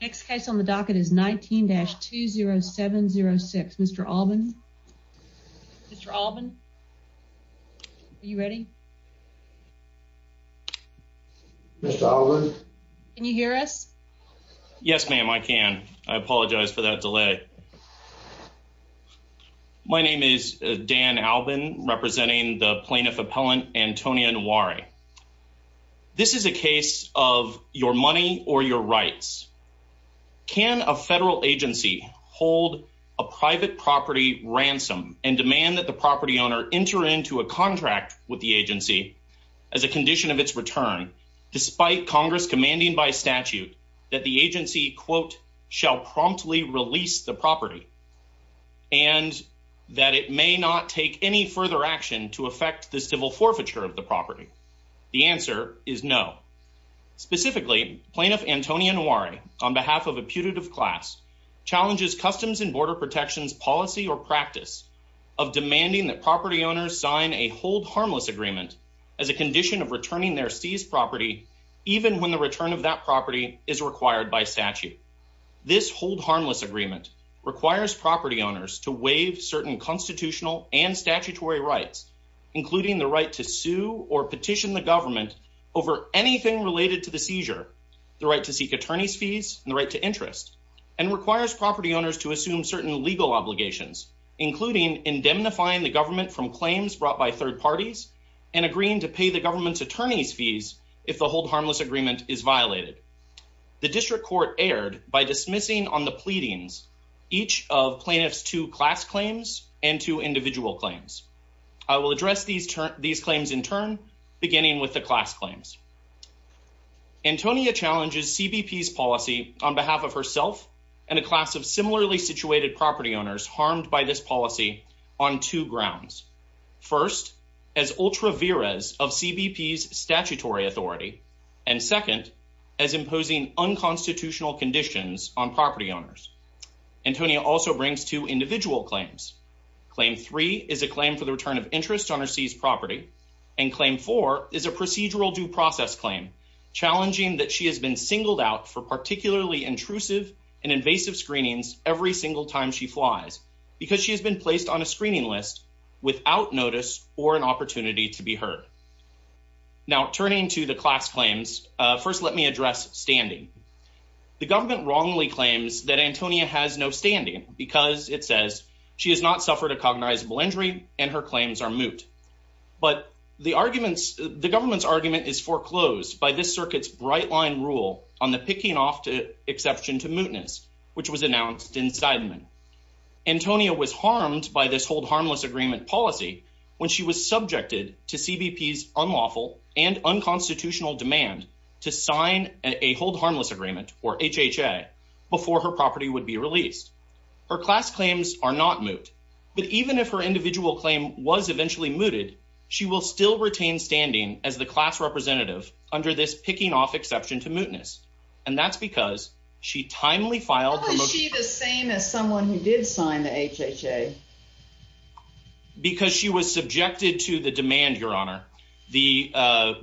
Next case on the docket is 19-20706. Mr. Alban? Mr. Alban? Are you ready? Mr. Alban? Can you hear us? Yes, ma'am, I can. I apologize for that delay. My name is Dan Alban, representing the plaintiff appellant, Anthonia Nwaorie. This is a case of your money or your rights. Can a federal agency hold a private property ransom and demand that the property owner enter into a contract with the agency as a condition of its return despite Congress commanding by statute that the agency, quote, shall promptly release the property and that it may not take any further action to affect the civil forfeiture of the The answer is no. Specifically, Plaintiff Anthonia Nwaorie, on behalf of a putative class, challenges Customs and Border Protection's policy or practice of demanding that property owners sign a hold harmless agreement as a condition of returning their seized property even when the return of that property is required by statute. This hold harmless agreement requires property certain constitutional and statutory rights, including the right to sue or petition the government over anything related to the seizure, the right to seek attorney's fees and the right to interest, and requires property owners to assume certain legal obligations, including indemnifying the government from claims brought by third parties and agreeing to pay the government's attorney's fees if the hold harmless agreement is violated. The district court erred by dismissing on the pleadings each of plaintiffs to class claims and to individual claims. I will address these claims in turn, beginning with the class claims. Antonia challenges CBP's policy on behalf of herself and a class of similarly situated property owners harmed by this policy on two grounds. First, as ultra veras of CBP's statutory authority, and second, as imposing unconstitutional conditions on property owners. Antonia also brings two individual claims. Claim three is a claim for the return of interest on her seized property, and claim four is a procedural due process claim challenging that she has been singled out for particularly intrusive and invasive screenings every single time she flies because she has been placed on a screening list without notice or an opportunity to be heard. Now turning to the class claims, first let me address standing. The government wrongly claims that Antonia has no standing because it says she has not suffered a cognizable injury and her claims are moot. But the government's argument is foreclosed by this circuit's bright line rule on the picking off to exception to mootness which was announced in Seidman. Antonia was harmed by this hold harmless agreement policy when she was subjected to CBP's unlawful and unconstitutional demand to sign a hold harmless agreement, or HHA, before her property would be released. Her class claims are not moot, but even if her individual claim was eventually mooted, she will still retain standing as the class representative under this picking off exception to mootness, and that's because she timely filed... How is she the same as someone who did sign the HHA? Because she was subjected to the demand, Your Honor. I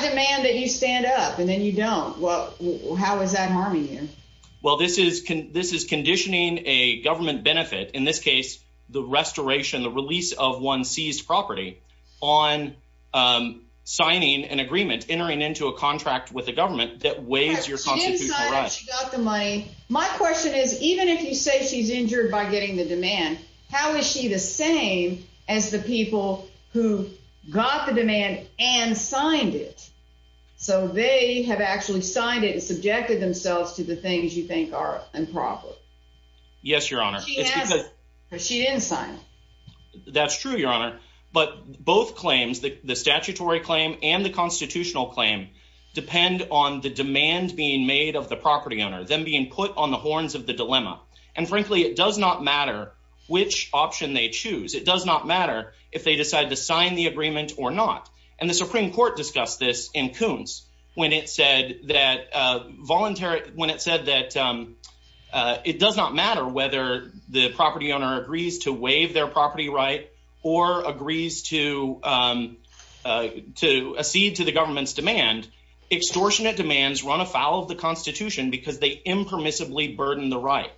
demand that you stand up, and then you don't. Well, how is that harming you? Well, this is conditioning a government benefit, in this case, the restoration, the release of one's seized property, on signing an agreement, entering into a contract with the government that waives your constitutional right. She didn't sign it, she got the money. My question is, even if you say she's injured by getting the demand, how is she the same as the people who got the demand and signed it, so they have actually signed it and subjected themselves to the things you think are improper? Yes, Your Honor. She hasn't, because she didn't sign it. That's true, Your Honor, but both claims, the statutory claim and the constitutional claim, depend on the demand being made of the property owner, them being put on the horns of the dilemma. And frankly, it does not matter which option they choose. It does not matter if they decide to sign the agreement or not. And the Supreme Court discussed this in Coons when it said that it does not matter whether the property owner agrees to waive their property right or agrees to accede to the government's demand. Extortionate demands run afoul of the Constitution because they impermissibly burden the right.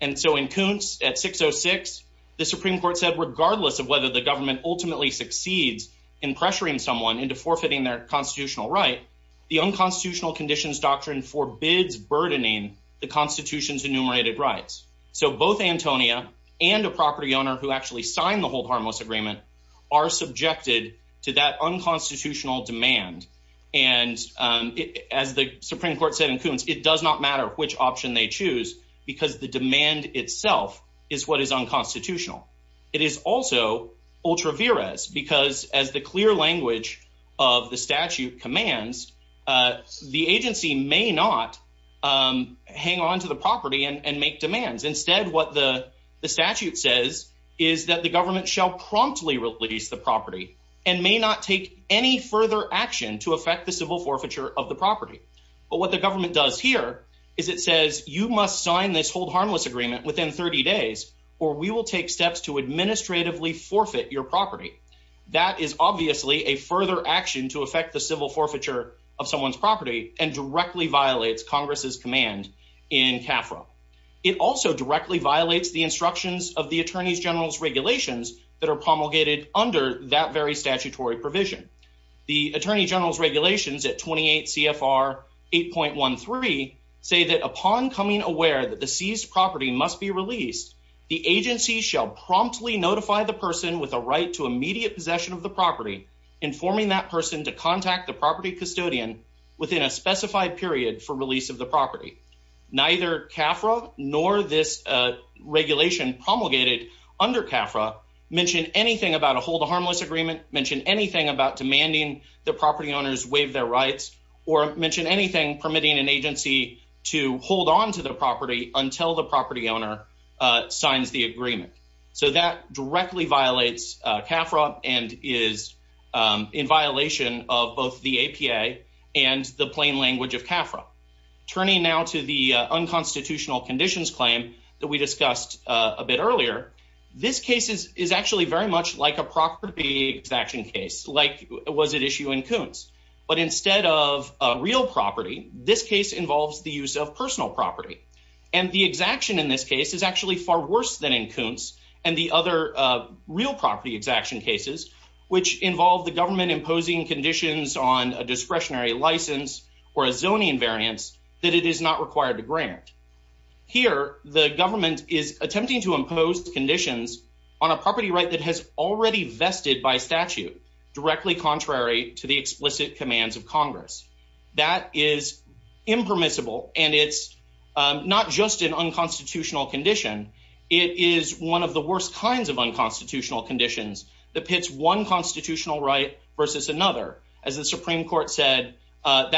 And so in Coons at 606, the Supreme Court said regardless of whether the government ultimately succeeds in pressuring someone into forfeiting their constitutional right, the unconstitutional conditions doctrine forbids burdening the Constitution's enumerated rights. So both Antonia and a property owner who actually signed the Hold Harmless Agreement are subjected to that Supreme Court said in Coons, it does not matter which option they choose because the demand itself is what is unconstitutional. It is also ultra vires because as the clear language of the statute commands, the agency may not hang on to the property and make demands. Instead, what the statute says is that the government shall promptly release the property and may not any further action to affect the civil forfeiture of the property. But what the government does here is it says you must sign this Hold Harmless Agreement within 30 days or we will take steps to administratively forfeit your property. That is obviously a further action to affect the civil forfeiture of someone's property and directly violates Congress's command in CAFRA. It also directly violates the instructions of the Attorney General's regulations that are promulgated under that very statutory provision. The Attorney General's regulations at 28 CFR 8.13 say that upon coming aware that the seized property must be released, the agency shall promptly notify the person with a right to immediate possession of the property, informing that person to contact the property custodian within a specified period for release of the property. Neither CAFRA nor this regulation promulgated under CAFRA mention anything about a Hold Harmless Agreement, mention anything about demanding the property owners waive their rights, or mention anything permitting an agency to hold on to the property until the property owner signs the agreement. So that directly violates CAFRA and is in violation of both the APA and the plain language of CAFRA. Turning now to the unconstitutional conditions claim that we discussed a bit earlier, this case is actually very much like a property exaction case like was at issue in Koontz, but instead of a real property, this case involves the use of personal property. And the exaction in this case is actually far worse than in Koontz and the other real property exaction cases, which involve the government imposing conditions on a discretionary license or a zoning invariance that it is not required to grant. Here the government is attempting to impose conditions on a property right that has already vested by statute, directly contrary to the explicit commands of Congress. That is impermissible and it's not just an unconstitutional condition, it is one of the worst kinds of unconstitutional conditions that pits one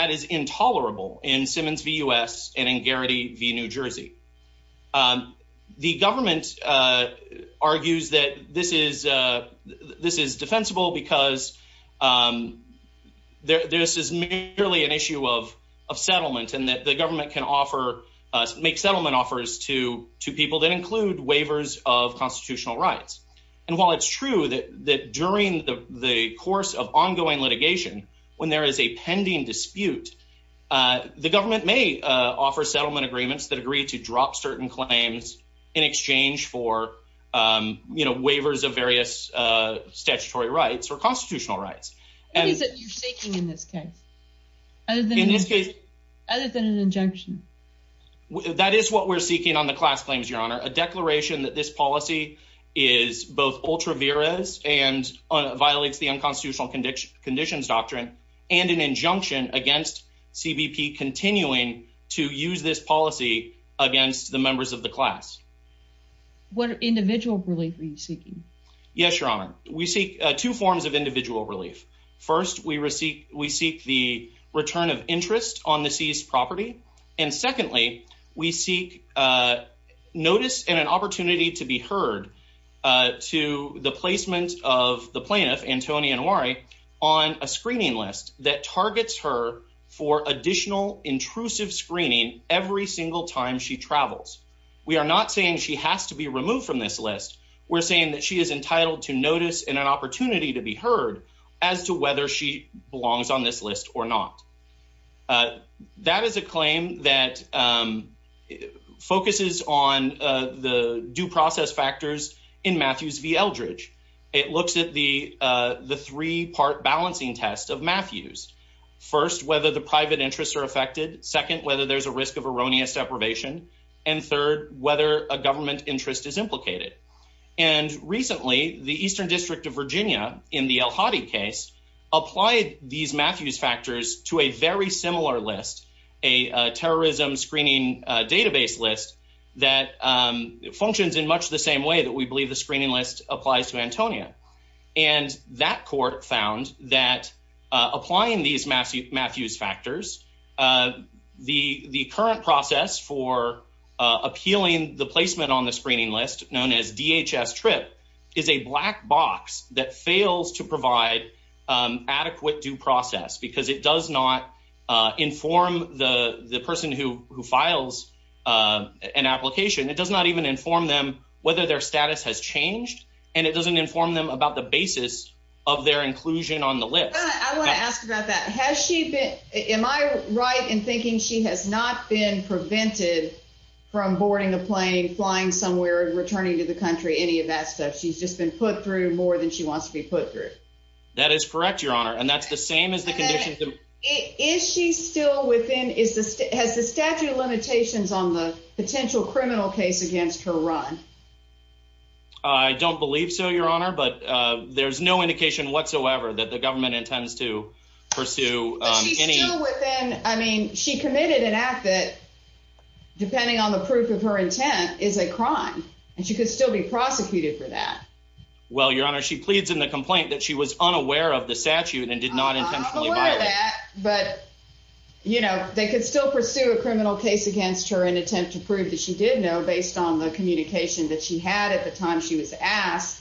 is intolerable in Simmons v. U.S. and in Garrity v. New Jersey. The government argues that this is defensible because this is merely an issue of settlement and that the government can make settlement offers to people that include waivers of constitutional rights. And while it's true that during the course of ongoing litigation, when there is a pending dispute, the government may offer settlement agreements that agree to drop certain claims in exchange for waivers of various statutory rights or constitutional rights. What is it you're seeking in this case, other than an injunction? That is what we're seeking on the class claims, Your Honor. A declaration that this policy is both ultra-virus and violates the unconstitutional conditions doctrine and an injunction against CBP continuing to use this policy against the members of the class. What individual relief are you seeking? Yes, Your Honor. We seek two forms of individual relief. First, we seek the return of interest on the seized property. And secondly, we seek notice and an opportunity to be heard to the placement of the plaintiff, Antonia Noiri, on a screening list that targets her for additional intrusive screening every single time she travels. We are not saying she has to be removed from this list. We're saying that she is entitled to notice and an opportunity to be heard. That is a claim that focuses on the due process factors in Matthews v. Eldridge. It looks at the three-part balancing test of Matthews. First, whether the private interests are affected. Second, whether there's a risk of erroneous deprivation. And third, whether a government interest is implicated. And recently, the Eastern District of Virginia, in the El Hadi case, applied these Matthews factors to a very similar list, a terrorism screening database list that functions in much the same way that we believe the screening list applies to Antonia. And that court found that applying these Matthews factors, the current process for appealing the placement on the screening list, known as DHS-TRIP, is a black box that fails to provide adequate due process, because it does not inform the person who files an application. It does not even inform them whether their status has changed, and it doesn't inform them about the basis of their inclusion on the list. I want to ask about that. Am I right in thinking she has not been prevented from boarding a plane, flying somewhere, returning to the country, any of that stuff? She's just been put through more than she wants to be put through. That is correct, Your Honor. And that's the same as the conditions- And then, is she still within, has the statute of limitations on the potential criminal case against her run? I don't believe so, Your Honor, but there's no indication whatsoever that the government intends to pursue any- But she's still within, I mean, she committed an act that, depending on the proof of her intent, is a crime, and she could still be in a criminal case against her. I'm not aware of that, but they could still pursue a criminal case against her in an attempt to prove that she did know, based on the communication that she had at the time she was asked,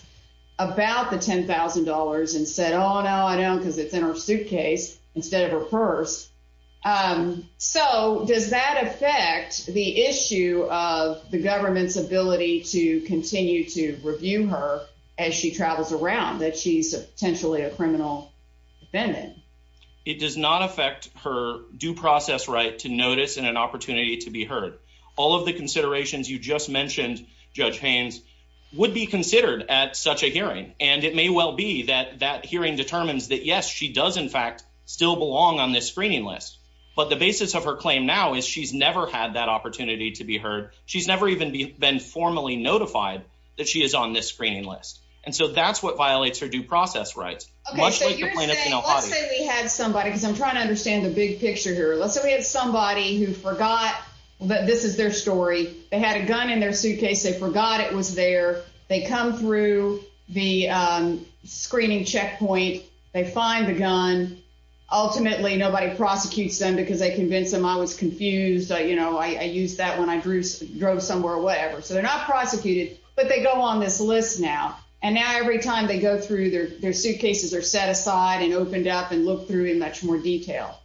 about the $10,000, and said, oh, no, I don't, because it's in her suitcase instead of her purse. So, does that affect the issue of the government's ability to continue to review her as she travels around, that she's potentially a criminal defendant? It does not affect her due process right to notice and an opportunity to be heard. All of the considerations you just mentioned, Judge Haynes, would be considered at such a hearing, and it may well be that that hearing determines that, yes, she does, in fact, still belong on this screening list, but the basis of her claim now is she's never had that notified that she is on this screening list, and so that's what violates her due process rights. Let's say we had somebody, because I'm trying to understand the big picture here. Let's say we had somebody who forgot that this is their story. They had a gun in their suitcase. They forgot it was there. They come through the screening checkpoint. They find the gun. Ultimately, nobody prosecutes them because they convinced them I was confused. I used that when drove somewhere or whatever, so they're not prosecuted, but they go on this list now, and now every time they go through, their suitcases are set aside and opened up and looked through in much more detail.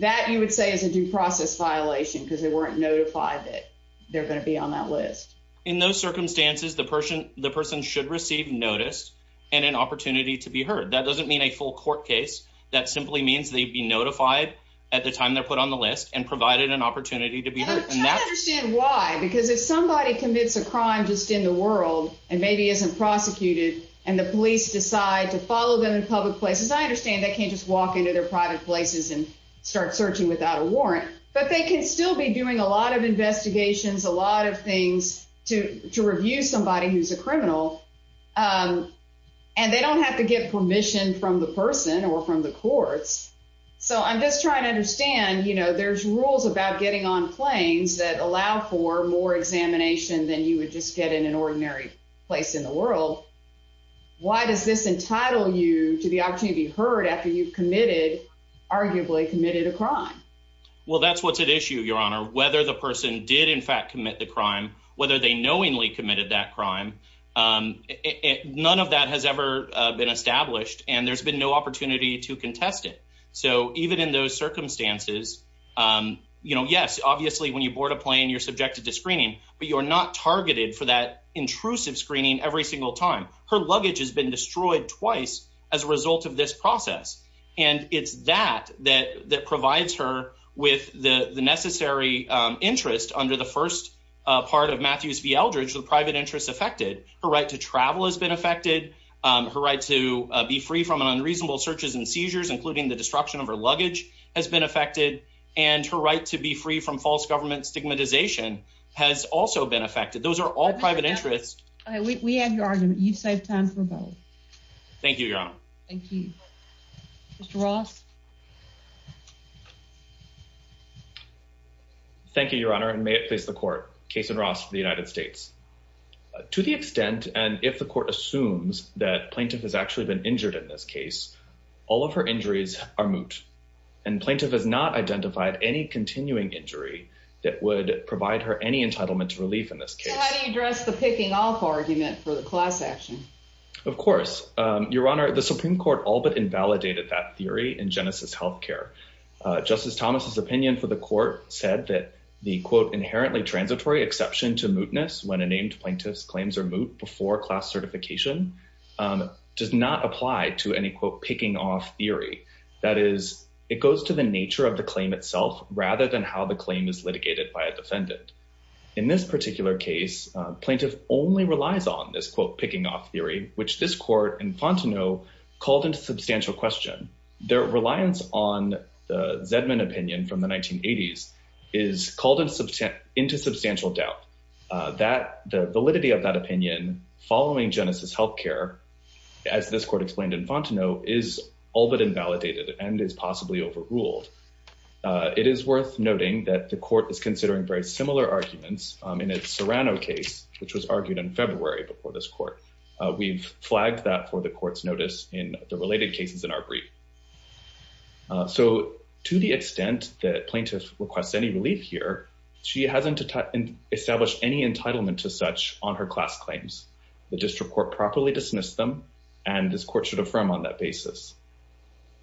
That, you would say, is a due process violation because they weren't notified that they're going to be on that list. In those circumstances, the person should receive notice and an opportunity to be heard. That doesn't mean a full court case. That simply means they'd be notified at the time they're put on the list and provided an opportunity to be heard. I understand why, because if somebody commits a crime just in the world and maybe isn't prosecuted and the police decide to follow them in public places, I understand they can't just walk into their private places and start searching without a warrant, but they can still be doing a lot of investigations, a lot of things to review somebody who's a criminal, and they don't have to get permission from the person or from the courts. So I'm just trying to understand, you know, there's rules about getting on planes that allow for more examination than you would just get in an ordinary place in the world. Why does this entitle you to the opportunity to be heard after you've committed, arguably, committed a crime? Well, that's what's at issue, Your Honor. Whether the person did in fact commit the crime, whether they knowingly committed that crime, none of that has ever been established, and there's been no opportunity to contest it. So even in those circumstances, you know, yes, obviously, when you board a plane, you're subjected to screening, but you're not targeted for that intrusive screening every single time. Her luggage has been destroyed twice as a result of this process, and it's that that provides her with the necessary interest under the first part of Matthews v. Eldridge, the private interest affected. Her right to travel has been affected. Her right to be free from unreasonable searches and seizures, including the destruction of her luggage, has been affected, and her right to be free from false government stigmatization has also been affected. Those are all private interests. We have your argument. You've saved time for both. Thank you, Your Honor. Thank you. Mr. Ross? Thank you, Your Honor, and may it please the court. Kason Ross for the United States. To the extent, and if the court assumes, that plaintiff has actually been injured in this case, all of her injuries are moot, and plaintiff has not identified any continuing injury that would provide her any entitlement to relief in this case. So how do you address the picking off argument for the class action? Of course, Your Honor. The Supreme Court all but invalidated that theory in Genesis Health Care. Justice Thomas's opinion for the court said that the, quote, inherently transitory exception to unnamed plaintiff's claims or moot before class certification does not apply to any, quote, picking off theory. That is, it goes to the nature of the claim itself rather than how the claim is litigated by a defendant. In this particular case, plaintiff only relies on this, quote, picking off theory, which this court in Fontenot called into substantial question. Their reliance on the Zedman opinion from the 1980s is called into substantial doubt that the validity of that opinion following Genesis Health Care, as this court explained in Fontenot, is all but invalidated and is possibly overruled. It is worth noting that the court is considering very similar arguments in its Serrano case, which was argued in February before this court. We've flagged that for the court's notice in the related cases in our brief. So, to the extent that plaintiff requests any relief here, she hasn't established any entitlement to such on her class claims. The district court properly dismissed them, and this court should affirm on that basis.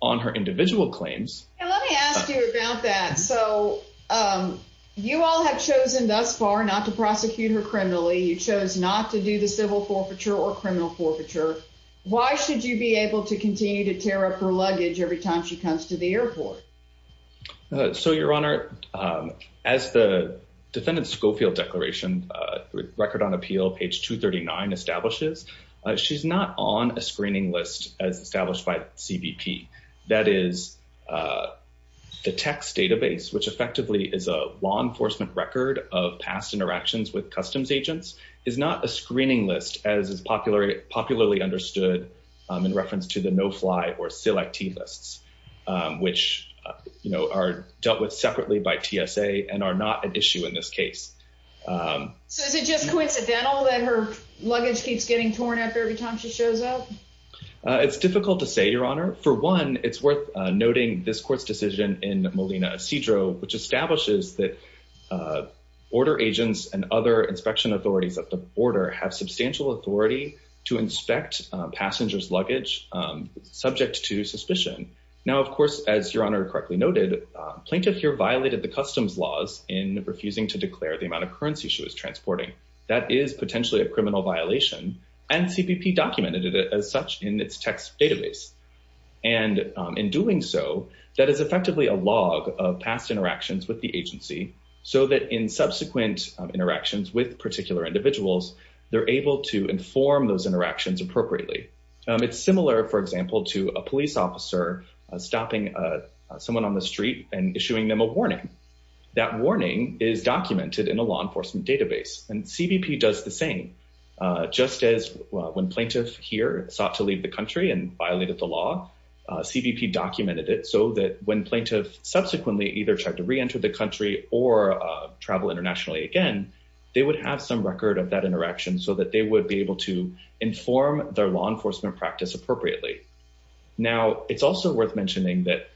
On her individual claims... Let me ask you about that. So, you all have chosen thus far not to prosecute her criminally. You chose not to do the civil forfeiture or criminal forfeiture. Why should you be able to continue to tear up her luggage every time she comes to the airport? So, Your Honor, as the defendant's Schofield declaration, Record on Appeal, page 239, establishes, she's not on a screening list as established by CBP. That is, the text database, which effectively is a law enforcement record of past interactions with customs agents, is not a screening list as is popularly understood in reference to the or selectivists, which, you know, are dealt with separately by TSA and are not an issue in this case. So, is it just coincidental that her luggage keeps getting torn up every time she shows up? It's difficult to say, Your Honor. For one, it's worth noting this court's decision in Molina-Cedro, which establishes that order agents and other inspection authorities at the to inspect passengers' luggage subject to suspicion. Now, of course, as Your Honor correctly noted, plaintiff here violated the customs laws in refusing to declare the amount of currency she was transporting. That is potentially a criminal violation and CBP documented it as such in its text database. And in doing so, that is effectively a log of past interactions with the agency so that in subsequent interactions with particular individuals, they're able to inform those interactions appropriately. It's similar, for example, to a police officer stopping someone on the street and issuing them a warning. That warning is documented in a law enforcement database and CBP does the same. Just as when plaintiff here sought to leave the country and violated the law, CBP documented it so that when travel internationally again, they would have some record of that interaction so that they would be able to inform their law enforcement practice appropriately. Now, it's also worth mentioning that,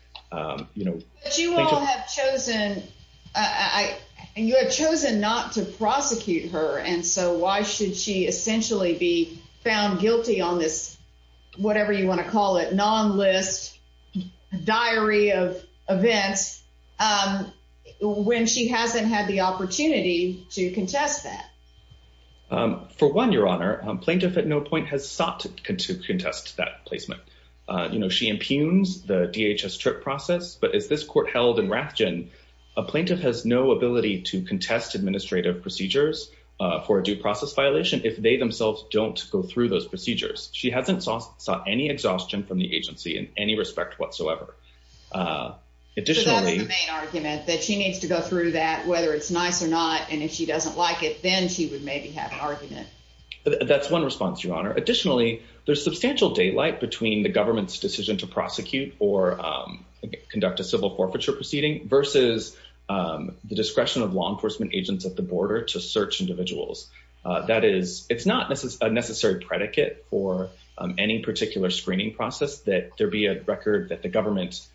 you know... But you all have chosen, and you have chosen not to prosecute her. And so why should she essentially be found guilty on this, whatever you want to call it, non-list diary of events when she hasn't had the opportunity to contest that? For one, Your Honor, plaintiff at no point has sought to contest that placement. You know, she impugns the DHS trip process, but as this court held in Rathjen, a plaintiff has no ability to contest administrative procedures for a due process violation if they themselves don't go through those procedures. She hasn't sought any exhaustion from the agency in any respect whatsoever. Additionally... So that's the main argument, that she needs to go through that, whether it's nice or not. And if she doesn't like it, then she would maybe have an argument. That's one response, Your Honor. Additionally, there's substantial daylight between the government's decision to prosecute or conduct a civil forfeiture proceeding versus the discretion of law enforcement agents at the border to search individuals. That is, it's not a necessary predicate for any particular screening process that there be a record that the government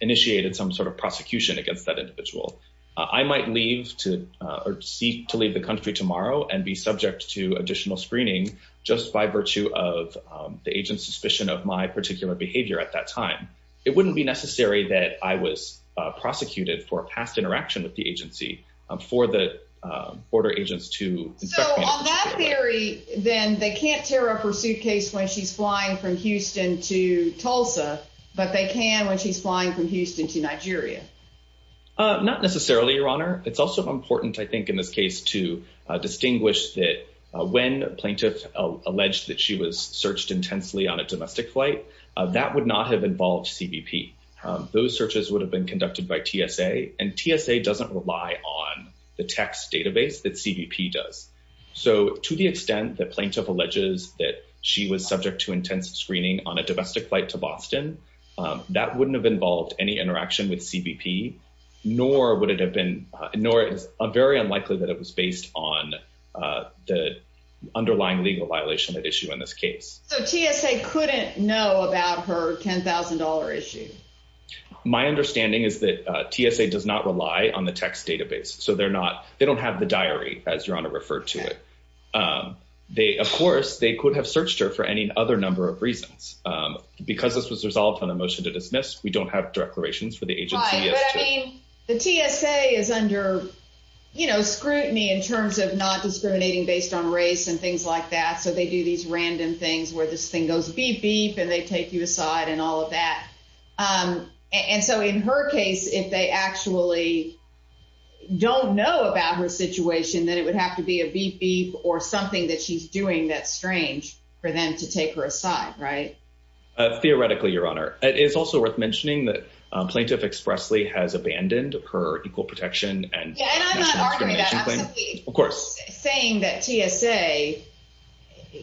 initiated some sort of prosecution against that individual. I might leave to, or seek to leave the country tomorrow and be subject to additional screening just by virtue of the agent's suspicion of my particular behavior at that time. It wouldn't be necessary that I was prosecuted for a past interaction with the agency for the border agents to inspect me. So on that theory, then they can't tear up her suitcase when she's flying from Houston to Tulsa, but they can when she's flying from Houston to Nigeria. Not necessarily, Your Honor. It's also important, I think, in this case to distinguish that when plaintiff alleged that she was searched intensely on a domestic flight, that would not have involved CBP. Those searches would have been conducted by TSA, and TSA doesn't rely on the tax database that CBP does. So to the extent that plaintiff alleges that she was subject to intense screening on a domestic flight to Boston, that wouldn't have involved any interaction with CBP, nor would it have been, nor is very unlikely that it was based on the underlying legal violation at issue in this case. So TSA couldn't know about her $10,000 issue? My understanding is that TSA does not rely on the tax database. So they're not, they don't have the diary, as Your Honor referred to it. Of course, they could have searched her for any other number of reasons. Because this was resolved on a motion to dismiss, we don't have declarations for the agency. Right, but I mean, the TSA is under, you know, scrutiny in terms of not discriminating based on race and things like that. So they do these random things where this thing goes beep, beep, and they take you aside and all of that. And so in her case, if they actually don't know about her situation, then it would have to be a beep, beep, or something that she's doing that's strange for them to take her aside, right? Theoretically, Your Honor, it is also worth mentioning that plaintiff expressly has abandoned her equal protection and discrimination claim. Yeah, and I'm not arguing that. I'm saying that TSA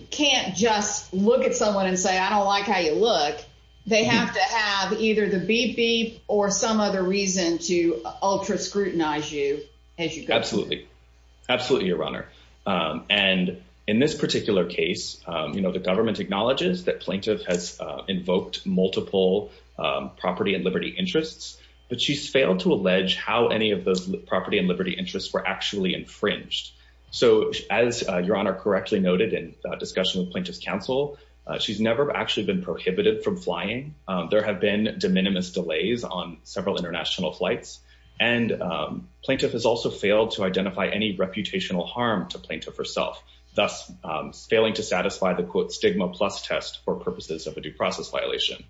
can't just look at someone and say, I don't like how you look. They have to have either the beep, beep, or some other reason to ultra scrutinize you as you go. Absolutely. Absolutely, Your Honor. And in this particular case, you know, the government acknowledges that plaintiff has how any of those property and liberty interests were actually infringed. So as Your Honor correctly noted in discussion with plaintiff's counsel, she's never actually been prohibited from flying. There have been de minimis delays on several international flights. And plaintiff has also failed to identify any reputational harm to plaintiff herself, thus failing to satisfy the quote stigma plus test for purposes of a due process violation.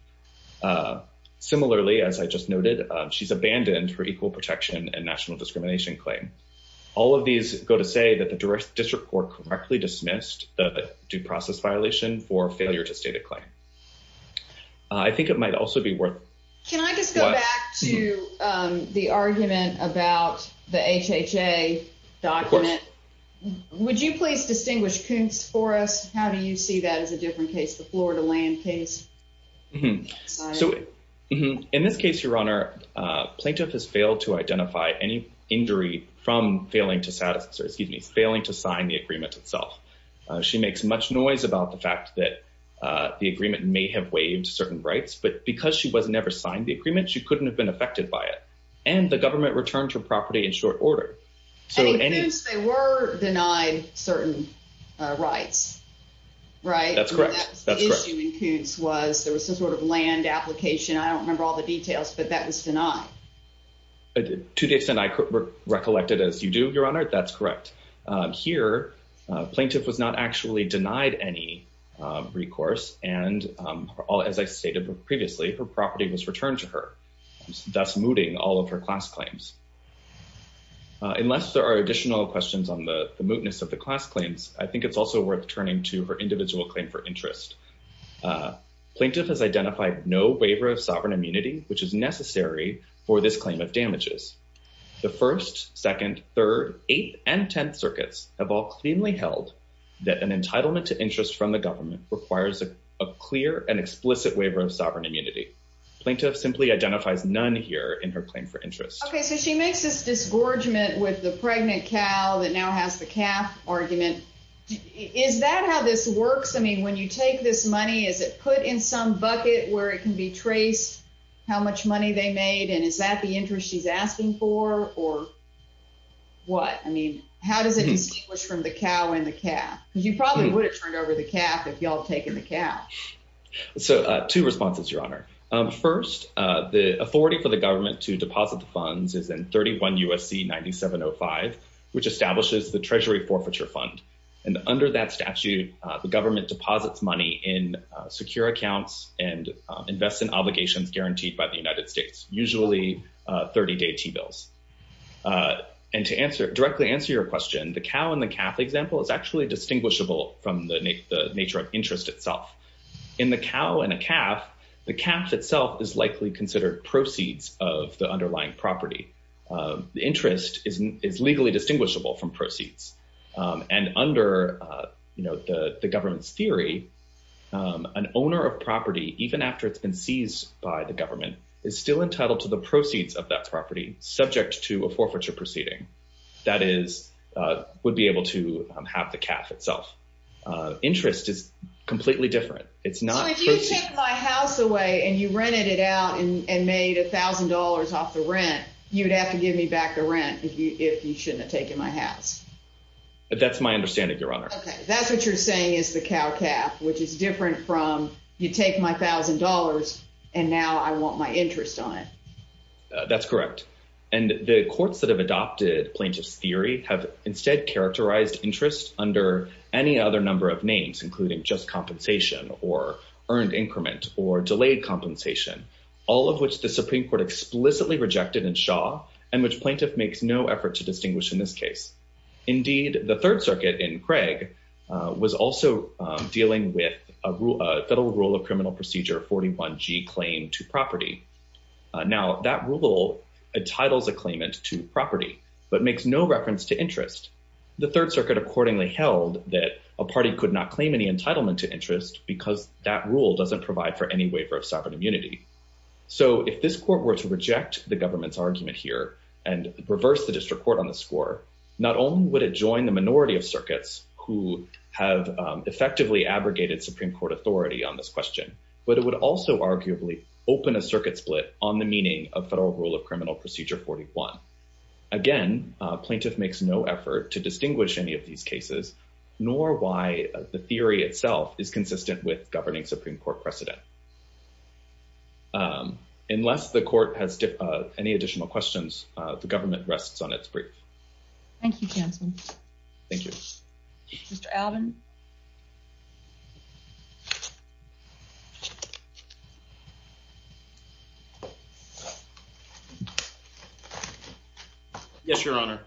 Similarly, as I just noted, she's abandoned her equal protection and national discrimination claim. All of these go to say that the district court correctly dismissed the due process violation for failure to state a claim. I think it might also be worth. Can I just go back to the argument about the HHA document? Would you please distinguish Koonce for us? How do you see that as a different case, the Florida land case? So in this case, Your Honor, plaintiff has failed to identify any injury from failing to satisfy excuse me, failing to sign the agreement itself. She makes much noise about the fact that the agreement may have waived certain rights, but because she was never signed the agreement, she couldn't have been affected by it. And the government returned her property in short order. So they were denied certain rights, right? That's correct. That's correct. The issue in Koonce was there was some sort of land application. I don't remember all the details, but that was denied. To the extent I could recollect it as you do, Your Honor, that's correct. Here, plaintiff was not actually denied any recourse. And as I stated previously, her property was returned to her, thus mooting all of her class claims. Unless there are additional questions on the mootness of the class claims, I think it's also worth turning to her individual claim for interest. Plaintiff has identified no waiver of sovereign immunity, which is necessary for this claim of damages. The 1st, 2nd, 3rd, 8th, and 10th circuits have all cleanly held that an entitlement to interest from the government requires a clear and explicit waiver of sovereign immunity. Plaintiff simply identifies none here in her claim for interest. OK, so she makes this disgorgement with the pregnant cow that now has the calf argument. Is that how this works? I mean, when you take this money, is it put in some bucket where it can be traced how much money they made? And is that the interest she's asking for or what? I mean, how does it distinguish from the cow and the calf? You probably would have turned over the calf if y'all taken the calf. So two responses, Your Honor. First, the authority for the government to deposit the funds is in 31 U.S.C. 9705, which establishes the Treasury Forfeiture Fund. And under that statute, the government deposits money in secure accounts and invest in obligations guaranteed by the United States, usually 30 day T-bills. And to directly answer your question, the cow and the calf example is actually distinguishable from the nature of interest itself. In the cow and a calf, the calf itself is likely considered proceeds of the underlying property. The interest is legally distinguishable from proceeds. And under the government's theory, an owner of property, even after it's been seized by the government, is still entitled to the proceeds of that property subject to a forfeiture proceeding. That is, would be able to have the calf itself. Interest is completely different. So if you took my house away and you rented it out and made $1,000 off the rent, you would have to give me back the rent if you shouldn't have taken my house. That's my understanding, Your Honor. Okay. That's what you're saying is the cow calf, which is different from you take my $1,000 and now I want my interest on it. That's correct. And the courts that have adopted plaintiff's theory have instead characterized interest under any other number of names, including just compensation or earned increment or delayed compensation, all of which the Supreme Court explicitly rejected in Shaw and which plaintiff makes no effort to distinguish in this case. Indeed, the third circuit in Craig was also dealing with a federal rule of criminal procedure, 41 G claim to property. Now that rule, a title's a claimant to property, but makes no reference to interest. The third accordingly held that a party could not claim any entitlement to interest because that rule doesn't provide for any waiver of sovereign immunity. So if this court were to reject the government's argument here and reverse the district court on the score, not only would it join the minority of circuits who have effectively abrogated Supreme Court authority on this question, but it would also arguably open a circuit split on the meaning of federal rule of criminal procedure, 41. Again, plaintiff makes no effort to distinguish any of these cases, nor why the theory itself is consistent with governing Supreme Court precedent. Unless the court has any additional questions, the government rests on its brief. Thank you, counsel. Thank you, Mr. Alvin. Yes, Your Honor.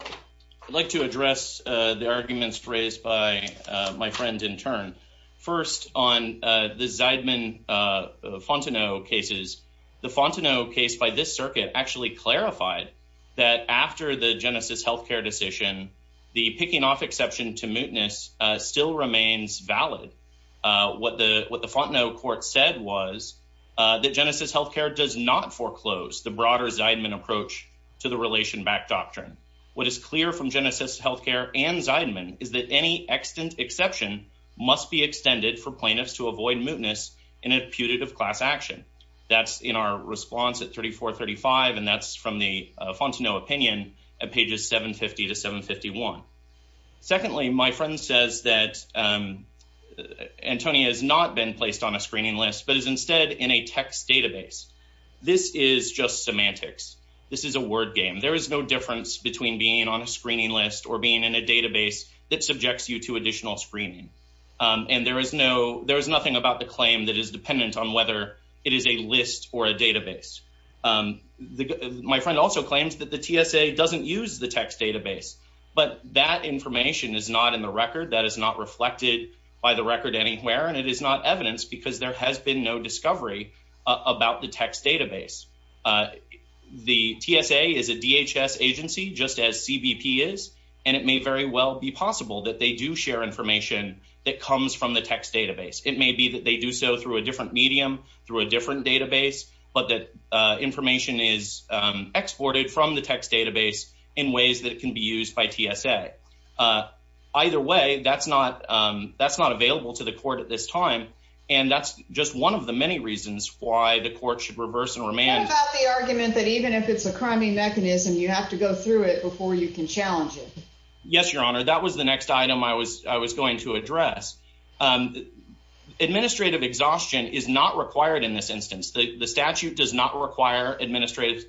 I'd like to address the arguments raised by my friend in turn. First, on the Zeidman-Fontenot cases, the Fontenot case by this circuit actually clarified that after the Genesis health care decision, the picking off exception to mootness still remains valid. What the Fontenot court said was that Genesis health care does not foreclose the broader Zeidman approach to the relation back doctrine. What is clear from Genesis health care and Zeidman is that any extant exception must be extended for plaintiffs to avoid mootness in a putative class action. That's in our response at 3435, and that's from the Fontenot opinion at pages 750 to 751. Secondly, my friend says that Antonia has not been placed on a screening list, but is instead in a text database. This is just semantics. This is a word game. There is no difference between being on a screening list or being in a database that subjects you to additional screening, and there is nothing about the claim that is dependent on whether it is a list or a database. My friend also claims that the TSA doesn't use the text database, but that information is not in the record that is not reflected by the record anywhere, and it is not evidence because there has been no discovery about the text database. The TSA is a DHS agency, just as CBP is, and it may very well be possible that they do share information that comes from the text database. It may be that they do so through a different medium, through a different database, but that information is exported from the text database in ways that can be used by TSA. Either way, that's not available to the court at this time, and that's just one of the many reasons why the court should reverse and remand. What about the argument that even if it's a criming mechanism, you have to go through it before you can challenge it? Yes, Your Honor. That was the next item I was going to address. Administrative exhaustion is not required in this instance. The statute does not require administrative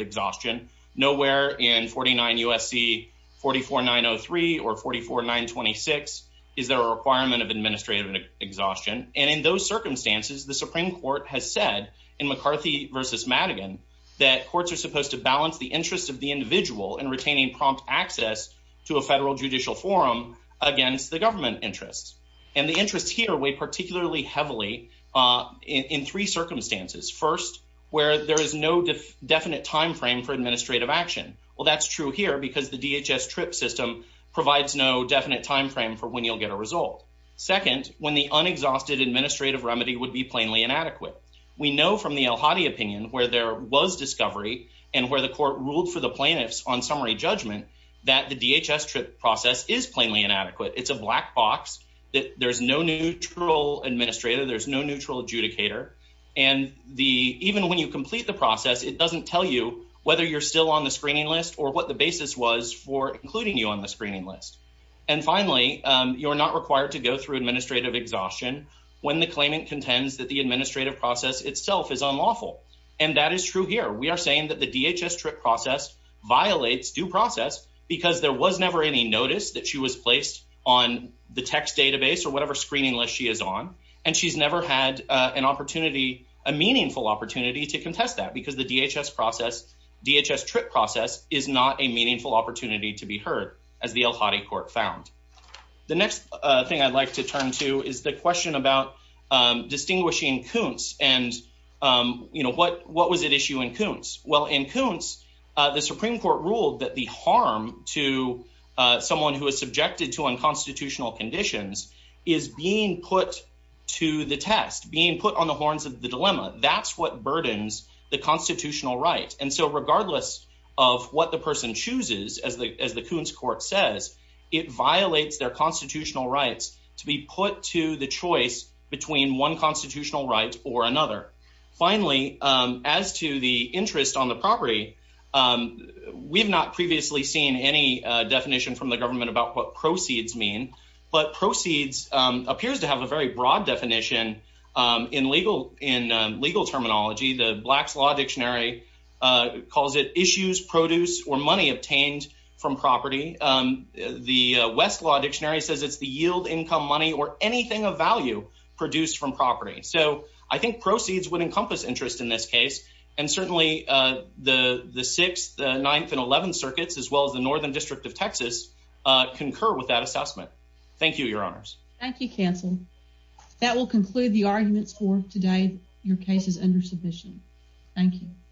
exhaustion. Nowhere in 49 U.S.C. 44903 or 44926 is there a requirement of administrative exhaustion, and in those circumstances, the Supreme Court has said in McCarthy v. Madigan that courts are supposed to balance the interests of the individual in retaining prompt access to a federal judicial forum against the government interests, and the definite time frame for administrative action. Well, that's true here because the DHS TRIP system provides no definite time frame for when you'll get a result. Second, when the unexhausted administrative remedy would be plainly inadequate. We know from the El Hadi opinion where there was discovery and where the court ruled for the plaintiffs on summary judgment that the DHS TRIP process is plainly inadequate. It's a black box. There's no neutral administrator. There's no process. It doesn't tell you whether you're still on the screening list or what the basis was for including you on the screening list, and finally, you're not required to go through administrative exhaustion when the claimant contends that the administrative process itself is unlawful, and that is true here. We are saying that the DHS TRIP process violates due process because there was never any notice that she was placed on the text database or whatever screening list she is on, and she's never had an opportunity, a meaningful opportunity to contest that because the DHS process, DHS TRIP process is not a meaningful opportunity to be heard as the El Hadi court found. The next thing I'd like to turn to is the question about distinguishing Kuntz and, you know, what was at issue in Kuntz? Well, in Kuntz, the Supreme Court ruled that the harm to someone who is subjected to unconstitutional conditions is being put to the test, being put on the horns of the dilemma. That's what burdens the constitutional right, and so regardless of what the person chooses, as the Kuntz court says, it violates their constitutional rights to be put to the choice between one constitutional right or another. Finally, as to the interest on property, we've not previously seen any definition from the government about what proceeds mean, but proceeds appears to have a very broad definition in legal terminology. The Blacks Law Dictionary calls it issues, produce, or money obtained from property. The West Law Dictionary says it's the yield, income, money, or anything of value produced from property. So I think proceeds would encompass interest in this case, and certainly the 6th, the 9th, and 11th circuits, as well as the Northern District of Texas, concur with that assessment. Thank you, Your Honors. Thank you, Counsel. That will conclude the arguments for today. Your case is under submission. Thank you.